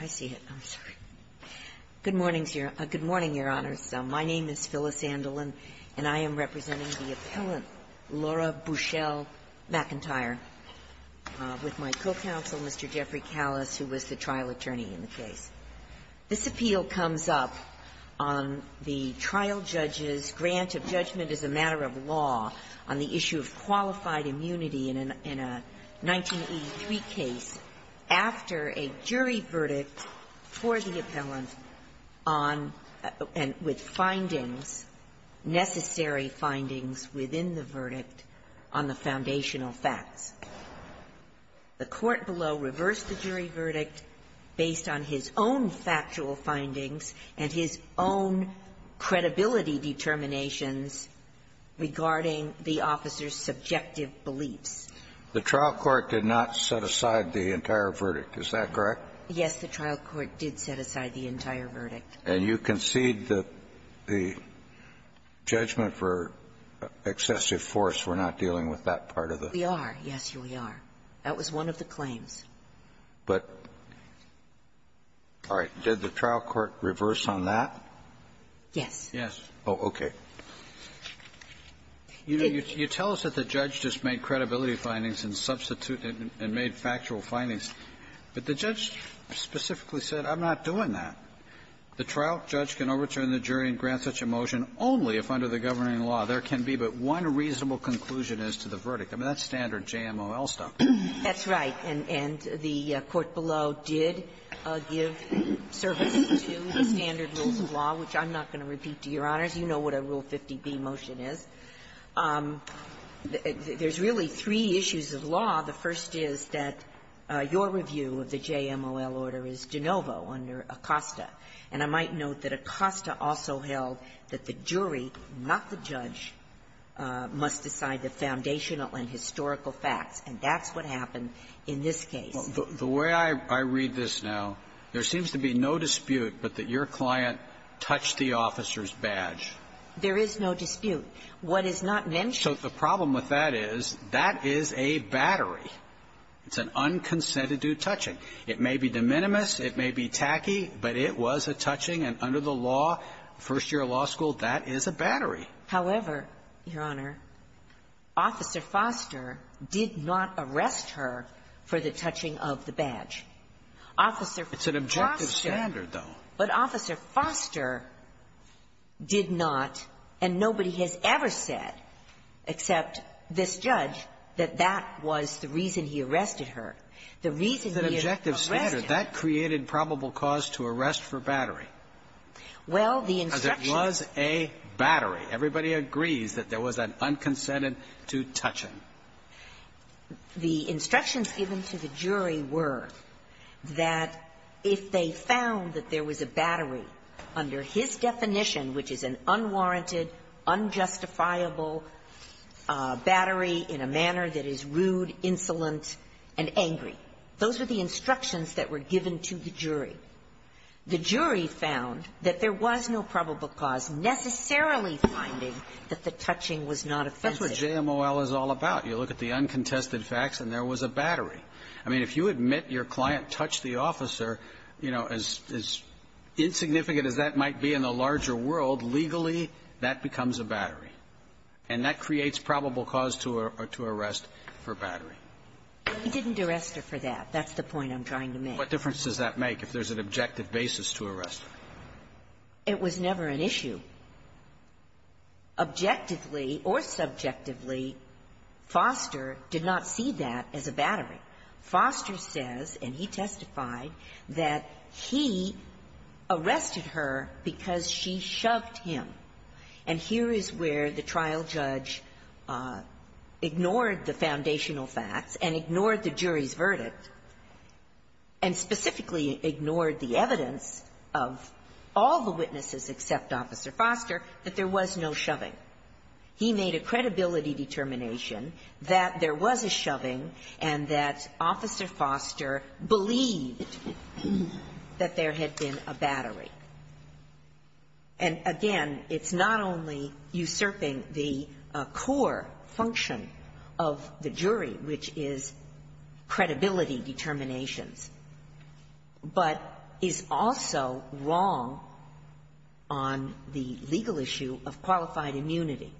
I see it. I'm sorry. Good morning, Your Honors. My name is Phyllis Andelin and I am representing the appellant, Laura Buchell-McIntyre, with my co-counsel, Mr. Jeffrey Callis, who was the trial attorney in the case. This appeal comes up on the trial judge's grant of judgment as a matter of law on the verdict for the appellant on and with findings, necessary findings within the verdict on the foundational facts. The court below reversed the jury verdict based on his own factual findings and his own credibility determinations regarding the officer's subjective beliefs. The trial court did not set aside the entire verdict. Is that correct? Yes, the trial court did set aside the entire verdict. And you concede that the judgment for excessive force, we're not dealing with that part of the? We are. Yes, we are. That was one of the claims. But all right. Did the trial court reverse on that? Yes. Yes. Oh, okay. You know, you tell us that the judge just made credibility findings and substituted and made factual findings. But the judge specifically said, I'm not doing that. The trial judge can overturn the jury and grant such a motion only if under the governing law there can be but one reasonable conclusion as to the verdict. I mean, that's standard JMOL stuff. That's right. And the court below did give service to the standard rules of law, which I'm not going to repeat to Your Honors. You know what a Rule 50b motion is. There's really three issues of law. The first is that your review of the JMOL order is de novo under Acosta. And I might note that Acosta also held that the jury, not the judge, must decide the foundational and historical facts. And that's what happened in this case. The way I read this now, there seems to be no dispute but that your client touched the officer's badge. There is no dispute. What is not mentioned So the problem with that is, that is a battery. It's an unconsented due touching. It may be de minimis, it may be tacky, but it was a touching. And under the law, first year of law school, that is a battery. However, Your Honor, Officer Foster did not arrest her for the touching of the badge. Officer Foster It's an objective standard, though. But Officer Foster did not, and nobody has ever said, except this judge, that that was the reason he arrested her. The reason he arrested her That's an objective standard. That created probable cause to arrest for battery. Well, the instructions Because it was a battery. Everybody agrees that there was an unconsented due touching. The instructions given to the jury were that if they found that there was a battery under his definition, which is an unwarranted, unjustifiable battery in a manner that is rude, insolent, and angry, those were the instructions that were given to the jury. The jury found that there was no probable cause necessarily finding that the touching was not offensive. That's what JMOL is all about. You look at the uncontested facts, and there was a battery. I mean, if you admit your client touched the officer, you know, as insignificant as that might be in the larger world, legally, that becomes a battery. And that creates probable cause to arrest for battery. He didn't arrest her for that. That's the point I'm trying to make. What difference does that make if there's an objective basis to arrest her? It was never an issue. Objectively or subjectively, Foster did not see that as a battery. Foster says, and he testified, that he arrested her because she shoved him. And here is where the trial judge ignored the foundational facts and ignored the jury's verdict, and specifically ignored the evidence of all the witnesses except Officer Foster, that there was no shoving. He made a credibility determination that there was a shoving and that Officer Foster believed that there had been a battery. And again, it's not only usurping the core function of the jury, which is credibility determinations, but is also wrong on the legal issue of qualified immunity.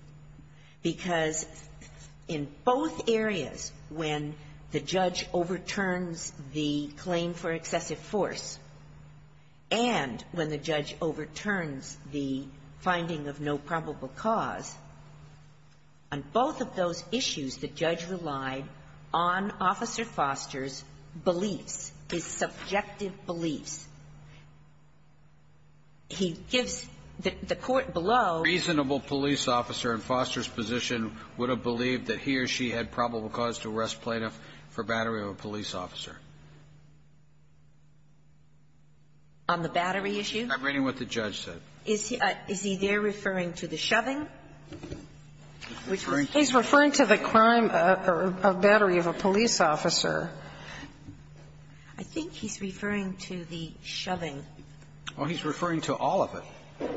Because in both areas, when the judge overturns the claim for excessive force and when the judge overturns the finding of no probable cause, on both of those issues the judge relied on Officer Foster's beliefs, his subjective beliefs. He gives the court below the reasonable police officer in Foster's position would have believed that he or she had probable cause to arrest plaintiff for battery of a police officer. On the battery issue? I'm reading what the judge said. Is he there referring to the shoving? He's referring to the crime of battery of a police officer. I think he's referring to the shoving. Well, he's referring to all of it.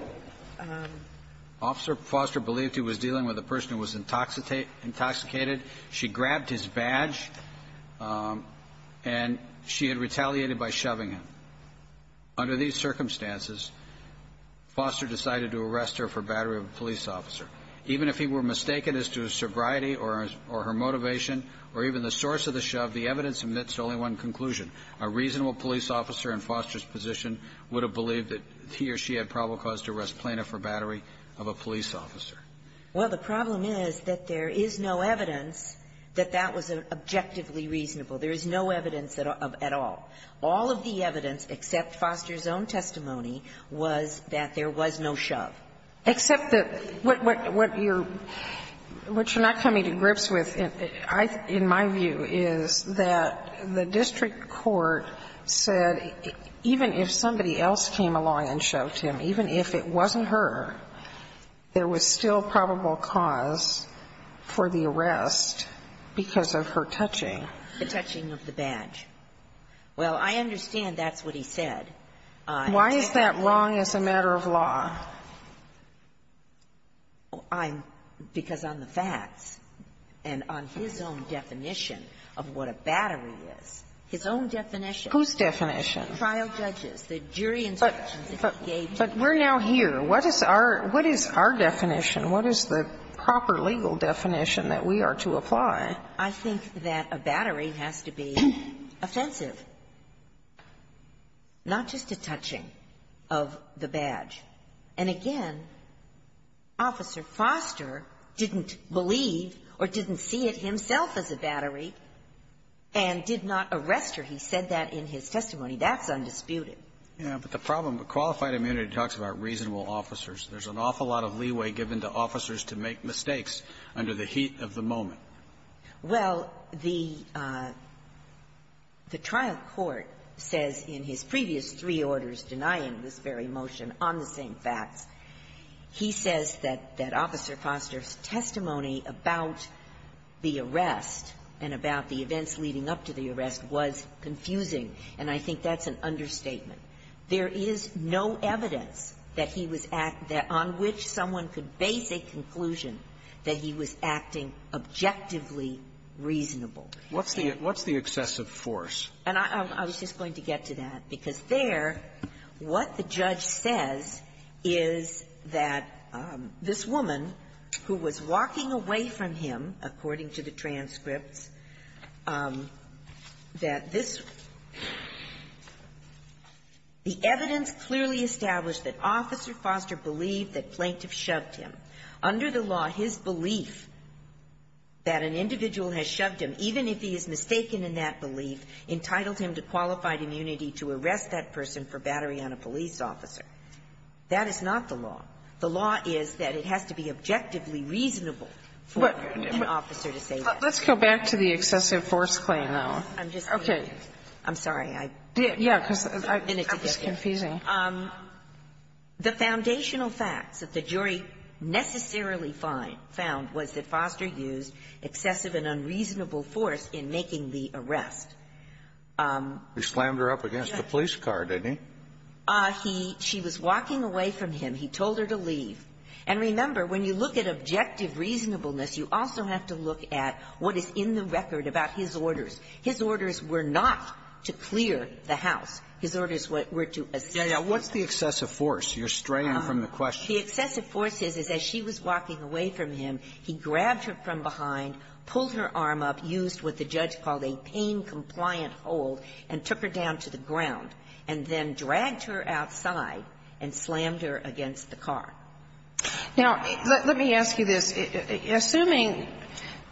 Officer Foster believed he was dealing with a person who was intoxicated. She grabbed his badge and she had retaliated by shoving him. Under these circumstances, Foster decided to arrest her for battery of a police officer. Even if he were mistaken as to sobriety or her motivation or even the source of the shove, the evidence admits only one conclusion. A reasonable police officer in Foster's position would have believed that he or she had probable cause to arrest plaintiff for battery of a police officer. Well, the problem is that there is no evidence that that was objectively reasonable. There is no evidence at all. All of the evidence, except Foster's own testimony, was that there was no shove. Except that what you're not coming to grips with, in my view, is that the district court said even if somebody else came along and shoved him, even if it wasn't her, there was still probable cause for the arrest because of her touching. The touching of the badge. Well, I understand that's what he said. Why is that wrong as a matter of law? I'm – because on the facts and on his own definition of what a battery is, his own definition. Whose definition? Trial judges. The jury instructions that he gave. But we're now here. What is our – what is our definition? What is the proper legal definition that we are to apply? And again, Officer Foster didn't believe or didn't see it himself as a battery and did not arrest her. He said that in his testimony. That's undisputed. Yeah. But the problem with qualified immunity talks about reasonable officers. There's an awful lot of leeway given to officers to make mistakes under the heat of the moment. Well, the – the trial court says in his previous three orders denying this very motion on the same facts, he says that – that Officer Foster's testimony about the arrest and about the events leading up to the arrest was confusing, and I think that's an understatement. There is no evidence that he was – that on which someone could base a conclusion that he was acting objectively reasonable. What's the – what's the excessive force? And I was just going to get to that, because there, what the judge says is that this woman, who was walking away from him, according to the transcripts, that this – the evidence clearly established that Officer Foster believed that plaintiff shoved him. Under the law, his belief that an individual has shoved him, even if he is mistaken in that belief, entitled him to qualified immunity to arrest that person for battering on a police officer. That is not the law. The law is that it has to be objectively reasonable for an officer to say that. Let's go back to the excessive force claim, though. I'm just saying. Okay. I'm sorry. I did. Yeah, because I – I'm just confusing. The foundational facts that the jury necessarily find – found was that Foster used excessive and unreasonable force in making the arrest. He slammed her up against the police car, didn't he? He – she was walking away from him. He told her to leave. And remember, when you look at objective reasonableness, you also have to look at what is in the record about his orders. His orders were not to clear the house. His orders were to assist. Yeah, yeah. What's the excessive force? You're straying from the question. The excessive force is, is as she was walking away from him, he grabbed her from behind, pulled her arm up, used what the judge called a pain-compliant hold, and took her down to the ground, and then dragged her outside and slammed her against the car. Now, let me ask you this. Assuming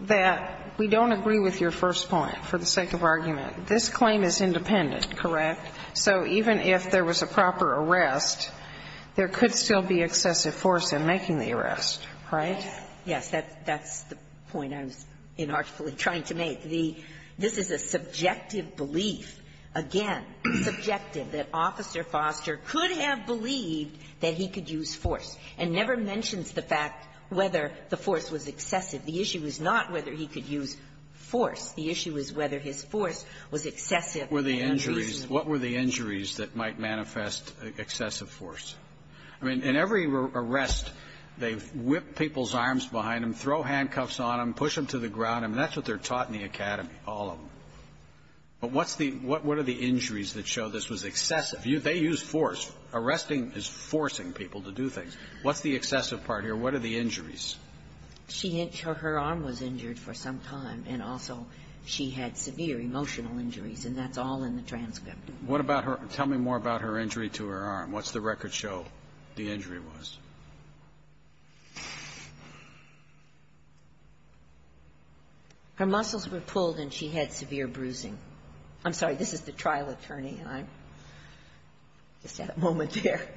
that we don't agree with your first point, for the sake of argument, this claim is independent, correct? So even if there was a proper arrest, there could still be excessive force in making the arrest, right? Yes. That's the point I was inartfully trying to make. The – this is a subjective belief, again, subjective, that Officer Foster could have believed that he could use force, and never mentions the fact whether the force was excessive. The issue is not whether he could use force. The issue is whether his force was excessive and unreasonable. What were the injuries that might manifest excessive force? I mean, in every arrest, they whip people's arms behind them, throw handcuffs on them, push them to the ground, and that's what they're taught in the academy, all of them. But what's the – what are the injuries that show this was excessive? They use force. Arresting is forcing people to do things. What's the excessive part here? What are the injuries? She – her arm was injured for some time, and also she had severe emotional injuries, and that's all in the transcript. What about her – tell me more about her injury to her arm. What's the record show the injury was? Her muscles were pulled, and she had severe bruising. I'm sorry. This is the trial attorney, and I just had a moment there.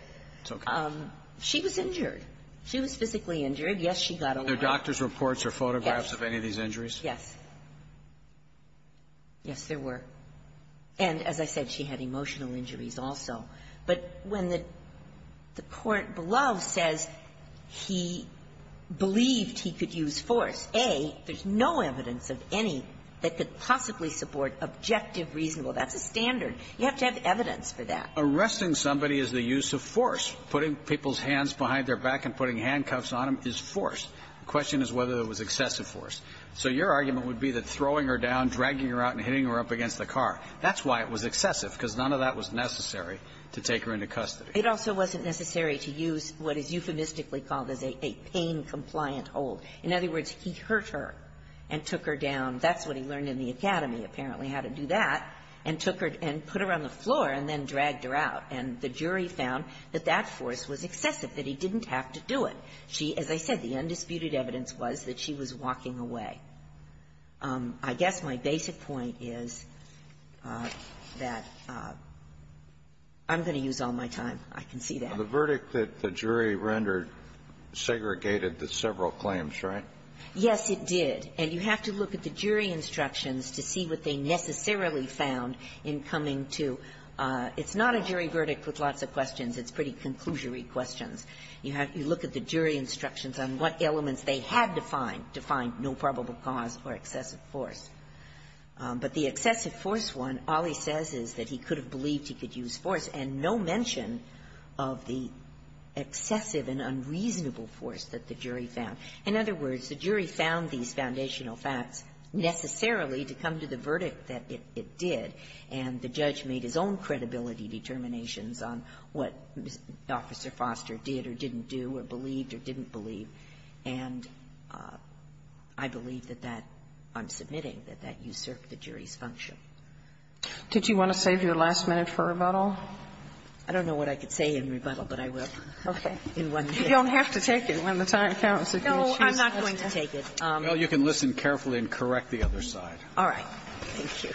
It's okay. She was injured. She was physically injured. Yes, she got a wound. Are there doctor's reports or photographs of any of these injuries? Yes. Yes, there were. And as I said, she had emotional injuries also. But when the court below says he believed he could use force, A, there's no evidence of any that could possibly support objective, reasonable. That's a standard. You have to have evidence for that. Arresting somebody is the use of force. Putting people's hands behind their back and putting handcuffs on them is force. The question is whether there was excessive force. So your argument would be that throwing her down, dragging her out, and hitting her up against the car, that's why it was excessive, because none of that was necessary to take her into custody. It also wasn't necessary to use what is euphemistically called as a pain-compliant hold. In other words, he hurt her and took her down. That's what he learned in the academy, apparently, how to do that, and took her and put her on the floor and then dragged her out. And the jury found that that force was excessive, that he didn't have to do it. She, as I said, the undisputed evidence was that she was walking away. I guess my basic point is that I'm going to use all my time. I can see that. Kennedy. The verdict that the jury rendered segregated the several claims, right? Yes, it did. And you have to look at the jury instructions to see what they necessarily found in coming to – it's not a jury verdict with lots of questions. It's pretty conclusory questions. You have to look at the jury instructions on what elements they had to find to find no probable cause or excessive force. But the excessive force one, all he says is that he could have believed he could use force and no mention of the excessive and unreasonable force that the jury found. In other words, the jury found these foundational facts necessarily to come to the verdict that it did, and the judge made his own credibility determinations on what Officer Foster did or didn't do or believed or didn't believe. And I believe that that – I'm submitting that that usurped the jury's function. Did you want to save your last minute for rebuttal? I don't know what I could say in rebuttal, but I will. Okay. You don't have to take it when the time counts. No, I'm not going to take it. Well, you can listen carefully and correct the other side. All right. Thank you.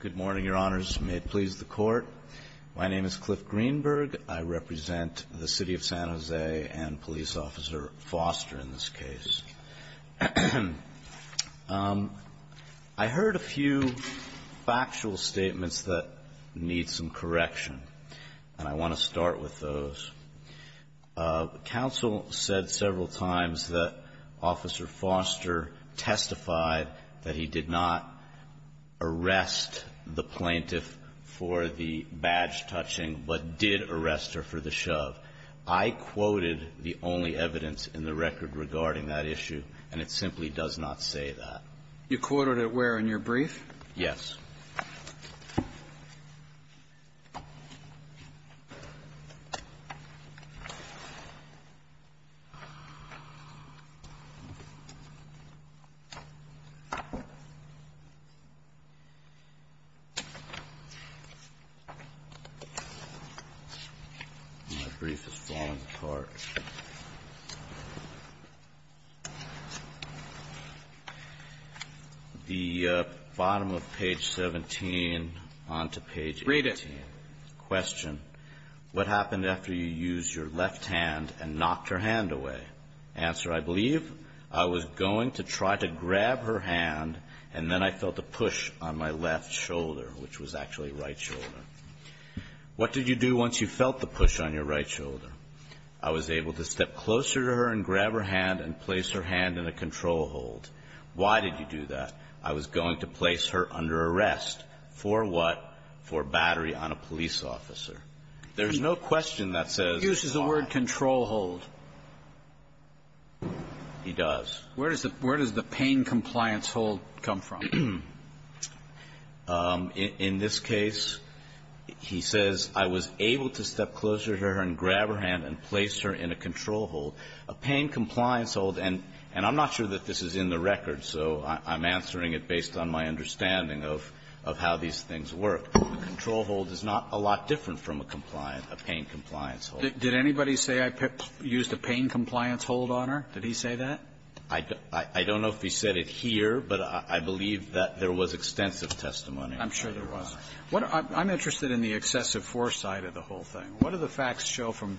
Good morning, Your Honors. May it please the Court. My name is Cliff Greenberg. I represent the City of San Jose and Police Officer Foster in this case. I heard a few factual statements that need some correction, and I want to start with those. Counsel said several times that Officer Foster testified that he did not arrest the plaintiff for the badge touching, but did arrest her for the shove. I quoted the only evidence in the record regarding that issue, and it simply does not say that. You quoted it where in your brief? Yes. My brief is falling apart. The bottom of page 17 on to page 18. Read it. Question. What happened after you used your left hand and knocked her hand away? Answer. I believe I was going to try to grab her hand, and then I felt a push on my left shoulder, which was actually right shoulder. What did you do once you felt the push on your right shoulder? I was able to step closer to her and grab her hand and place her hand in a control hold. Why did you do that? I was going to place her under arrest. For what? For battery on a police officer. There's no question that says. He uses the word control hold. He does. Where does the pain compliance hold come from? In this case, he says, I was able to step closer to her and grab her hand and place her in a control hold. A pain compliance hold, and I'm not sure that this is in the record, so I'm answering it based on my understanding of how these things work. A control hold is not a lot different from a pain compliance hold. Did anybody say I used a pain compliance hold on her? Did he say that? I don't know if he said it here, but I believe that there was extensive testimony. I'm sure there was. I'm interested in the excessive foresight of the whole thing. What do the facts show from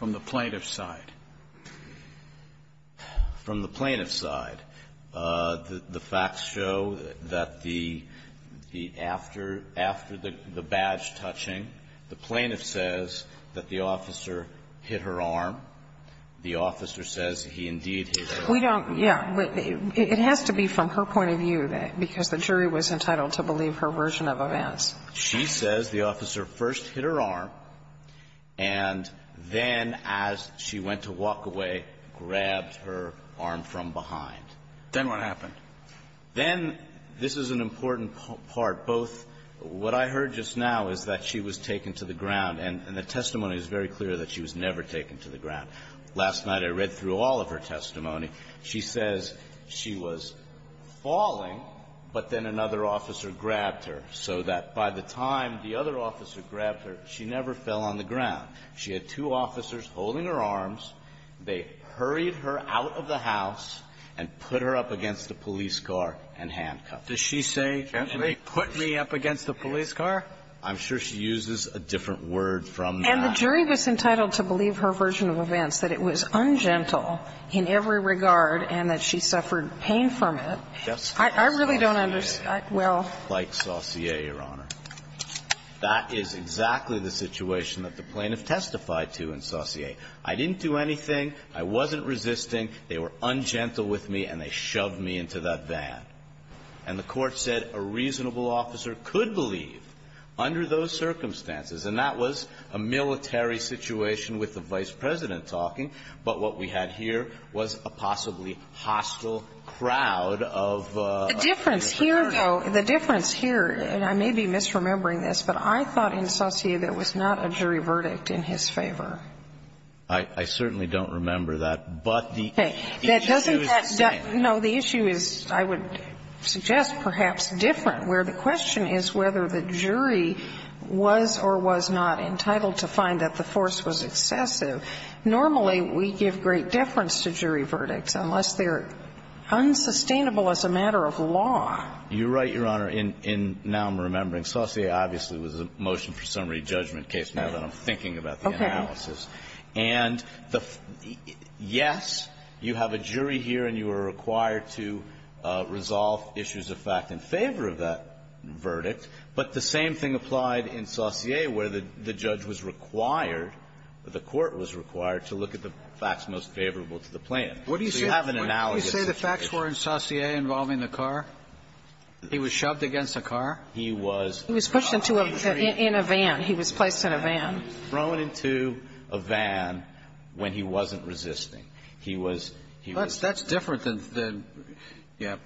the plaintiff's side? From the plaintiff's side, the facts show that the the after after the badge touching, the plaintiff says that the officer hit her arm. The officer says he indeed hit her arm. We don't, yeah, but it has to be from her point of view, because the jury was entitled to believe her version of events. She says the officer first hit her arm, and then as she went to walk away, grabbed her arm from behind. Then what happened? Then, this is an important part, both what I heard just now is that she was taken to the ground, and the testimony is very clear that she was never taken to the ground. Last night, I read through all of her testimony. She says she was falling, but then another officer grabbed her, so that by the time the other officer grabbed her, she never fell on the ground. She had two officers holding her arms. They hurried her out of the house and put her up against the police car and handcuffed her. Does she say, put me up against the police car? I'm sure she uses a different word from that. And the jury was entitled to believe her version of events, that it was ungentle in every regard, and that she suffered pain from it. I really don't understand. Well. Like Saussure, Your Honor. That is exactly the situation that the plaintiff testified to in Saussure. I didn't do anything. I wasn't resisting. They were ungentle with me, and they shoved me into that van. And the Court said a reasonable officer could believe, under those circumstances and that was a military situation with the Vice President talking, but what we had here was a possibly hostile crowd of military. The difference here, though, the difference here, and I may be misremembering this, but I thought in Saussure there was not a jury verdict in his favor. I certainly don't remember that, but the issue is the same. It suggests perhaps different, where the question is whether the jury was or was not entitled to find that the force was excessive. Normally, we give great deference to jury verdicts, unless they're unsustainable as a matter of law. You're right, Your Honor, and now I'm remembering. Saussure obviously was a motion for summary judgment case now that I'm thinking about the analysis. Okay. And the yes, you have a jury here, and you are required to resolve issues of fact in favor of that verdict, but the same thing applied in Saussure, where the judge was required, the Court was required, to look at the facts most favorable to the plan. So you have an analogous situation. What do you say the facts were in Saussure involving the car? He was shoved against the car? He was thrown into the jury. He was pushed into a van. He was placed in a van. Thrown into a van when he wasn't resisting. He was he was ---- That's different than the ---- yeah.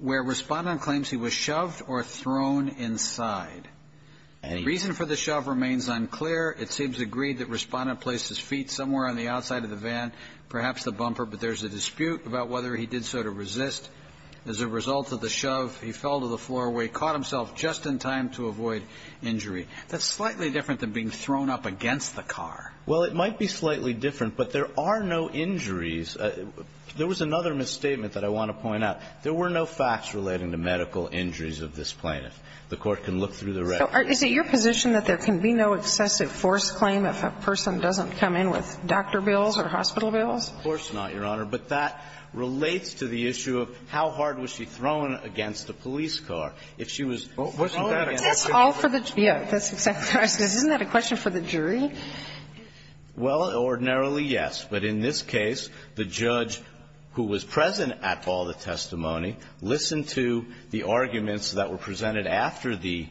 Where Respondent claims he was shoved or thrown inside. And the reason for the shove remains unclear. It seems agreed that Respondent placed his feet somewhere on the outside of the van, perhaps the bumper, but there's a dispute about whether he did so to resist. As a result of the shove, he fell to the floor where he caught himself just in time to avoid injury. That's slightly different than being thrown up against the car. Well, it might be slightly different, but there are no injuries. There was another misstatement that I want to point out. There were no facts relating to medical injuries of this plaintiff. The Court can look through the records. So is it your position that there can be no excessive force claim if a person doesn't come in with doctor bills or hospital bills? Of course not, Your Honor. But that relates to the issue of how hard was she thrown against the police car. If she was thrown against the police car. But that's all for the jury. Isn't that a question for the jury? Well, ordinarily, yes. But in this case, the judge who was present at all the testimony listened to the arguments that were presented after the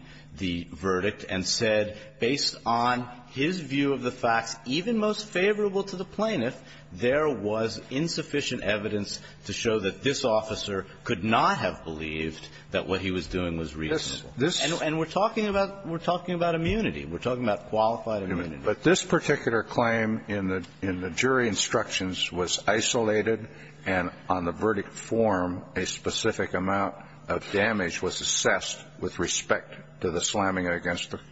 verdict and said, based on his view of the facts, even most favorable to the plaintiff, there was insufficient evidence to show that this officer could not have believed that what he was doing was reasonable. And we're talking about immunity. We're talking about qualified immunity. But this particular claim in the jury instructions was isolated, and on the verdict form, a specific amount of damage was assessed with respect to the slamming against the court.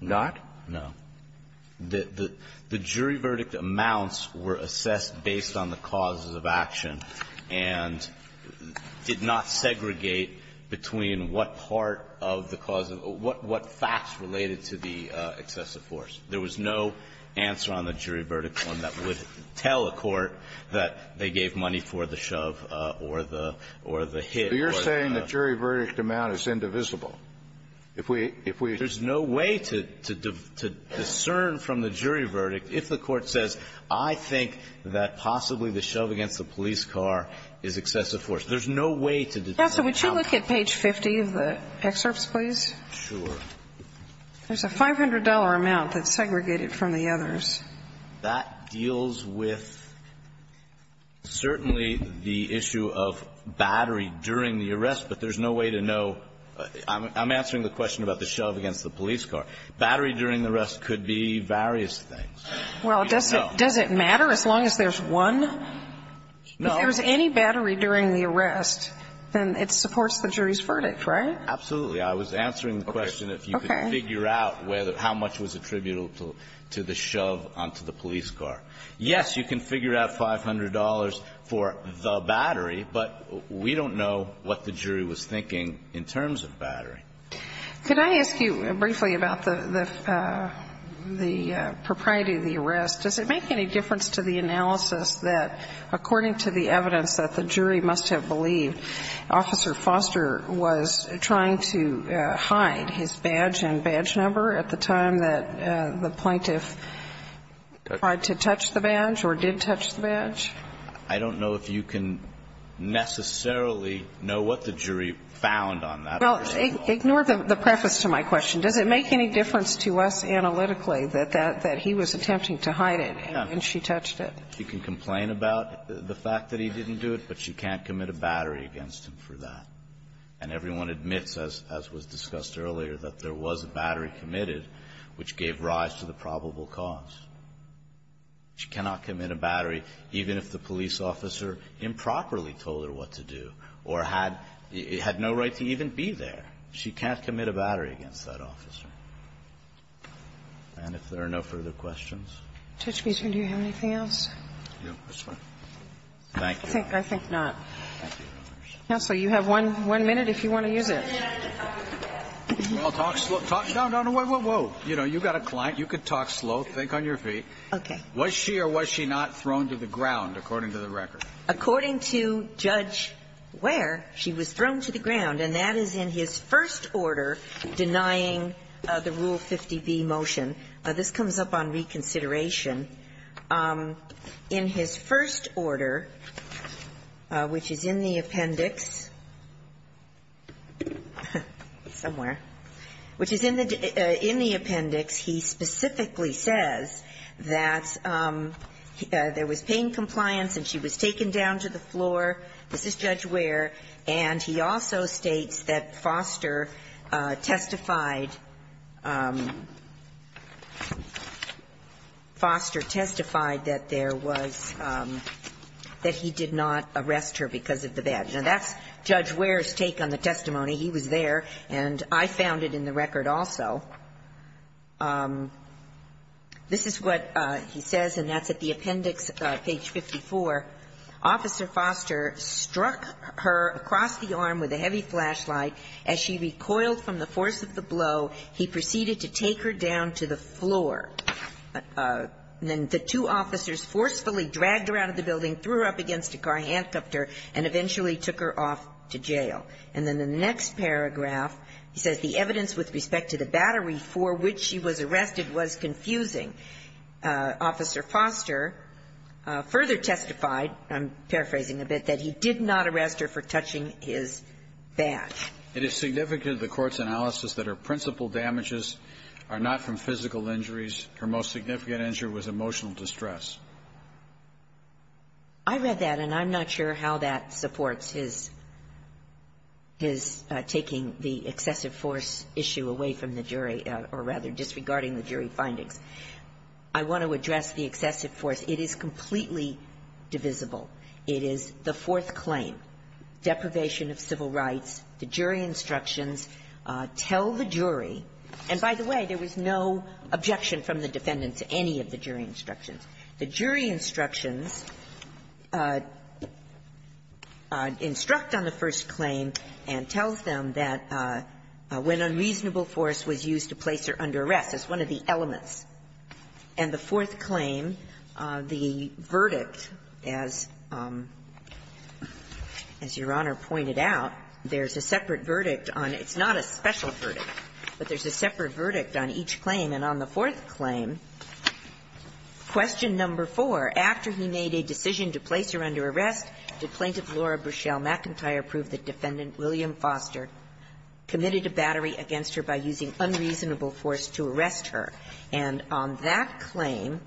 Not? No. The jury verdict amounts were assessed based on the causes of action and did not of the cause of what facts related to the excessive force. There was no answer on the jury verdict form that would tell a court that they gave money for the shove or the hit. So you're saying the jury verdict amount is indivisible? If we – if we – There's no way to discern from the jury verdict if the court says, I think that possibly the shove against the police car is excessive force. There's no way to determine how – Yes, so would you look at page 50 of the excerpts, please? Sure. There's a $500 amount that's segregated from the others. That deals with certainly the issue of battery during the arrest, but there's no way to know. I'm answering the question about the shove against the police car. Battery during the arrest could be various things. Well, does it matter as long as there's one? No. If there's any battery during the arrest, then it supports the jury's verdict, right? Absolutely. I was answering the question if you could figure out whether – how much was attributable to the shove onto the police car. Yes, you can figure out $500 for the battery, but we don't know what the jury was thinking in terms of battery. Could I ask you briefly about the – the propriety of the arrest? Does it make any difference to the analysis that, according to the evidence that the jury must have believed, Officer Foster was trying to hide his badge and badge number at the time that the plaintiff tried to touch the badge or did touch the badge? I don't know if you can necessarily know what the jury found on that. Well, ignore the preface to my question. Does it make any difference to us analytically that he was attempting to hide it and she touched it? She can complain about the fact that he didn't do it, but she can't commit a battery against him for that. And everyone admits, as was discussed earlier, that there was a battery committed which gave rise to the probable cause. She cannot commit a battery even if the police officer improperly told her what to do or had no right to even be there. She can't commit a battery against that officer. And if there are no further questions? Judge Beeson, do you have anything else? No, that's fine. Thank you. I think not. Counsel, you have one minute if you want to use it. Well, talk slow. No, no, whoa, whoa, whoa. You know, you've got a client. You could talk slow. Think on your feet. Okay. Was she or was she not thrown to the ground, according to the record? According to Judge Ware, she was thrown to the ground, and that is in his first order denying the Rule 50B motion. This comes up on reconsideration. In his first order, which is in the appendix, somewhere, which is in the appendix, he specifically says that there was pain compliance and she was taken down to the floor. This is Judge Ware. And he also states that Foster testified that there was that he did not arrest her because of the badge. Now, that's Judge Ware's take on the testimony. He was there, and I found it in the record also. This is what he says, and that's at the appendix, page 54. Officer Foster struck her across the arm with a heavy flashlight. As she recoiled from the force of the blow, he proceeded to take her down to the floor. Then the two officers forcefully dragged her out of the building, threw her up against a car handcuffed her, and eventually took her off to jail. And then the next paragraph, he says the evidence with respect to the battery for which she was arrested was confusing. Officer Foster further testified, I'm paraphrasing a bit, that he did not arrest her for touching his badge. It is significant in the Court's analysis that her principal damages are not from physical injuries. Her most significant injury was emotional distress. I read that, and I'm not sure how that supports his taking the excessive force issue away from the jury, or rather disregarding the jury findings. I want to address the excessive force. It is completely divisible. It is the fourth claim, deprivation of civil rights. The jury instructions tell the jury, and by the way, there was no objection from the defendant to any of the jury instructions. The jury instructions instruct on the first claim and tell them that when unreasonable force was used to place her under arrest. It's one of the elements. And the fourth claim, the verdict, as Your Honor pointed out, there's a separate verdict on the – it's not a special verdict, but there's a separate verdict on each claim. And on the fourth claim, question number four, after he made a decision to place her under arrest, did Plaintiff Laura Burchell McIntyre prove that Defendant William Foster committed a battery against her by using unreasonable force to arrest her? And on that claim,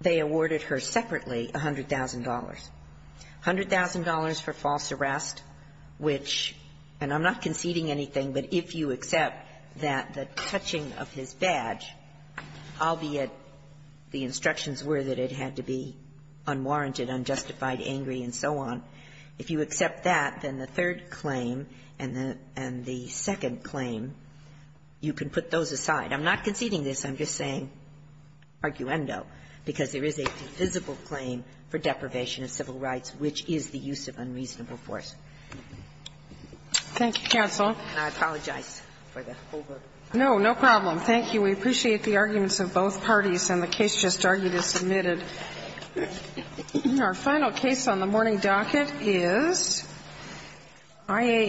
they awarded her separately $100,000. $100,000 for false arrest, which – and I'm not conceding anything, but if you accept that the touching of his badge, albeit the instructions were that it had to be unwarranted, unjustified, angry, and so on, if you accept that, then the third claim and the second claim, you can put those aside. I'm not conceding this. I'm just saying, arguendo, because there is a defensible claim for deprivation of civil rights, which is the use of unreasonable force. Thank you, counsel. And I apologize for the holdup. No, no problem. Thank you. We appreciate the arguments of both parties. And the case just argued is submitted. Our final case on the morning docket is IAM.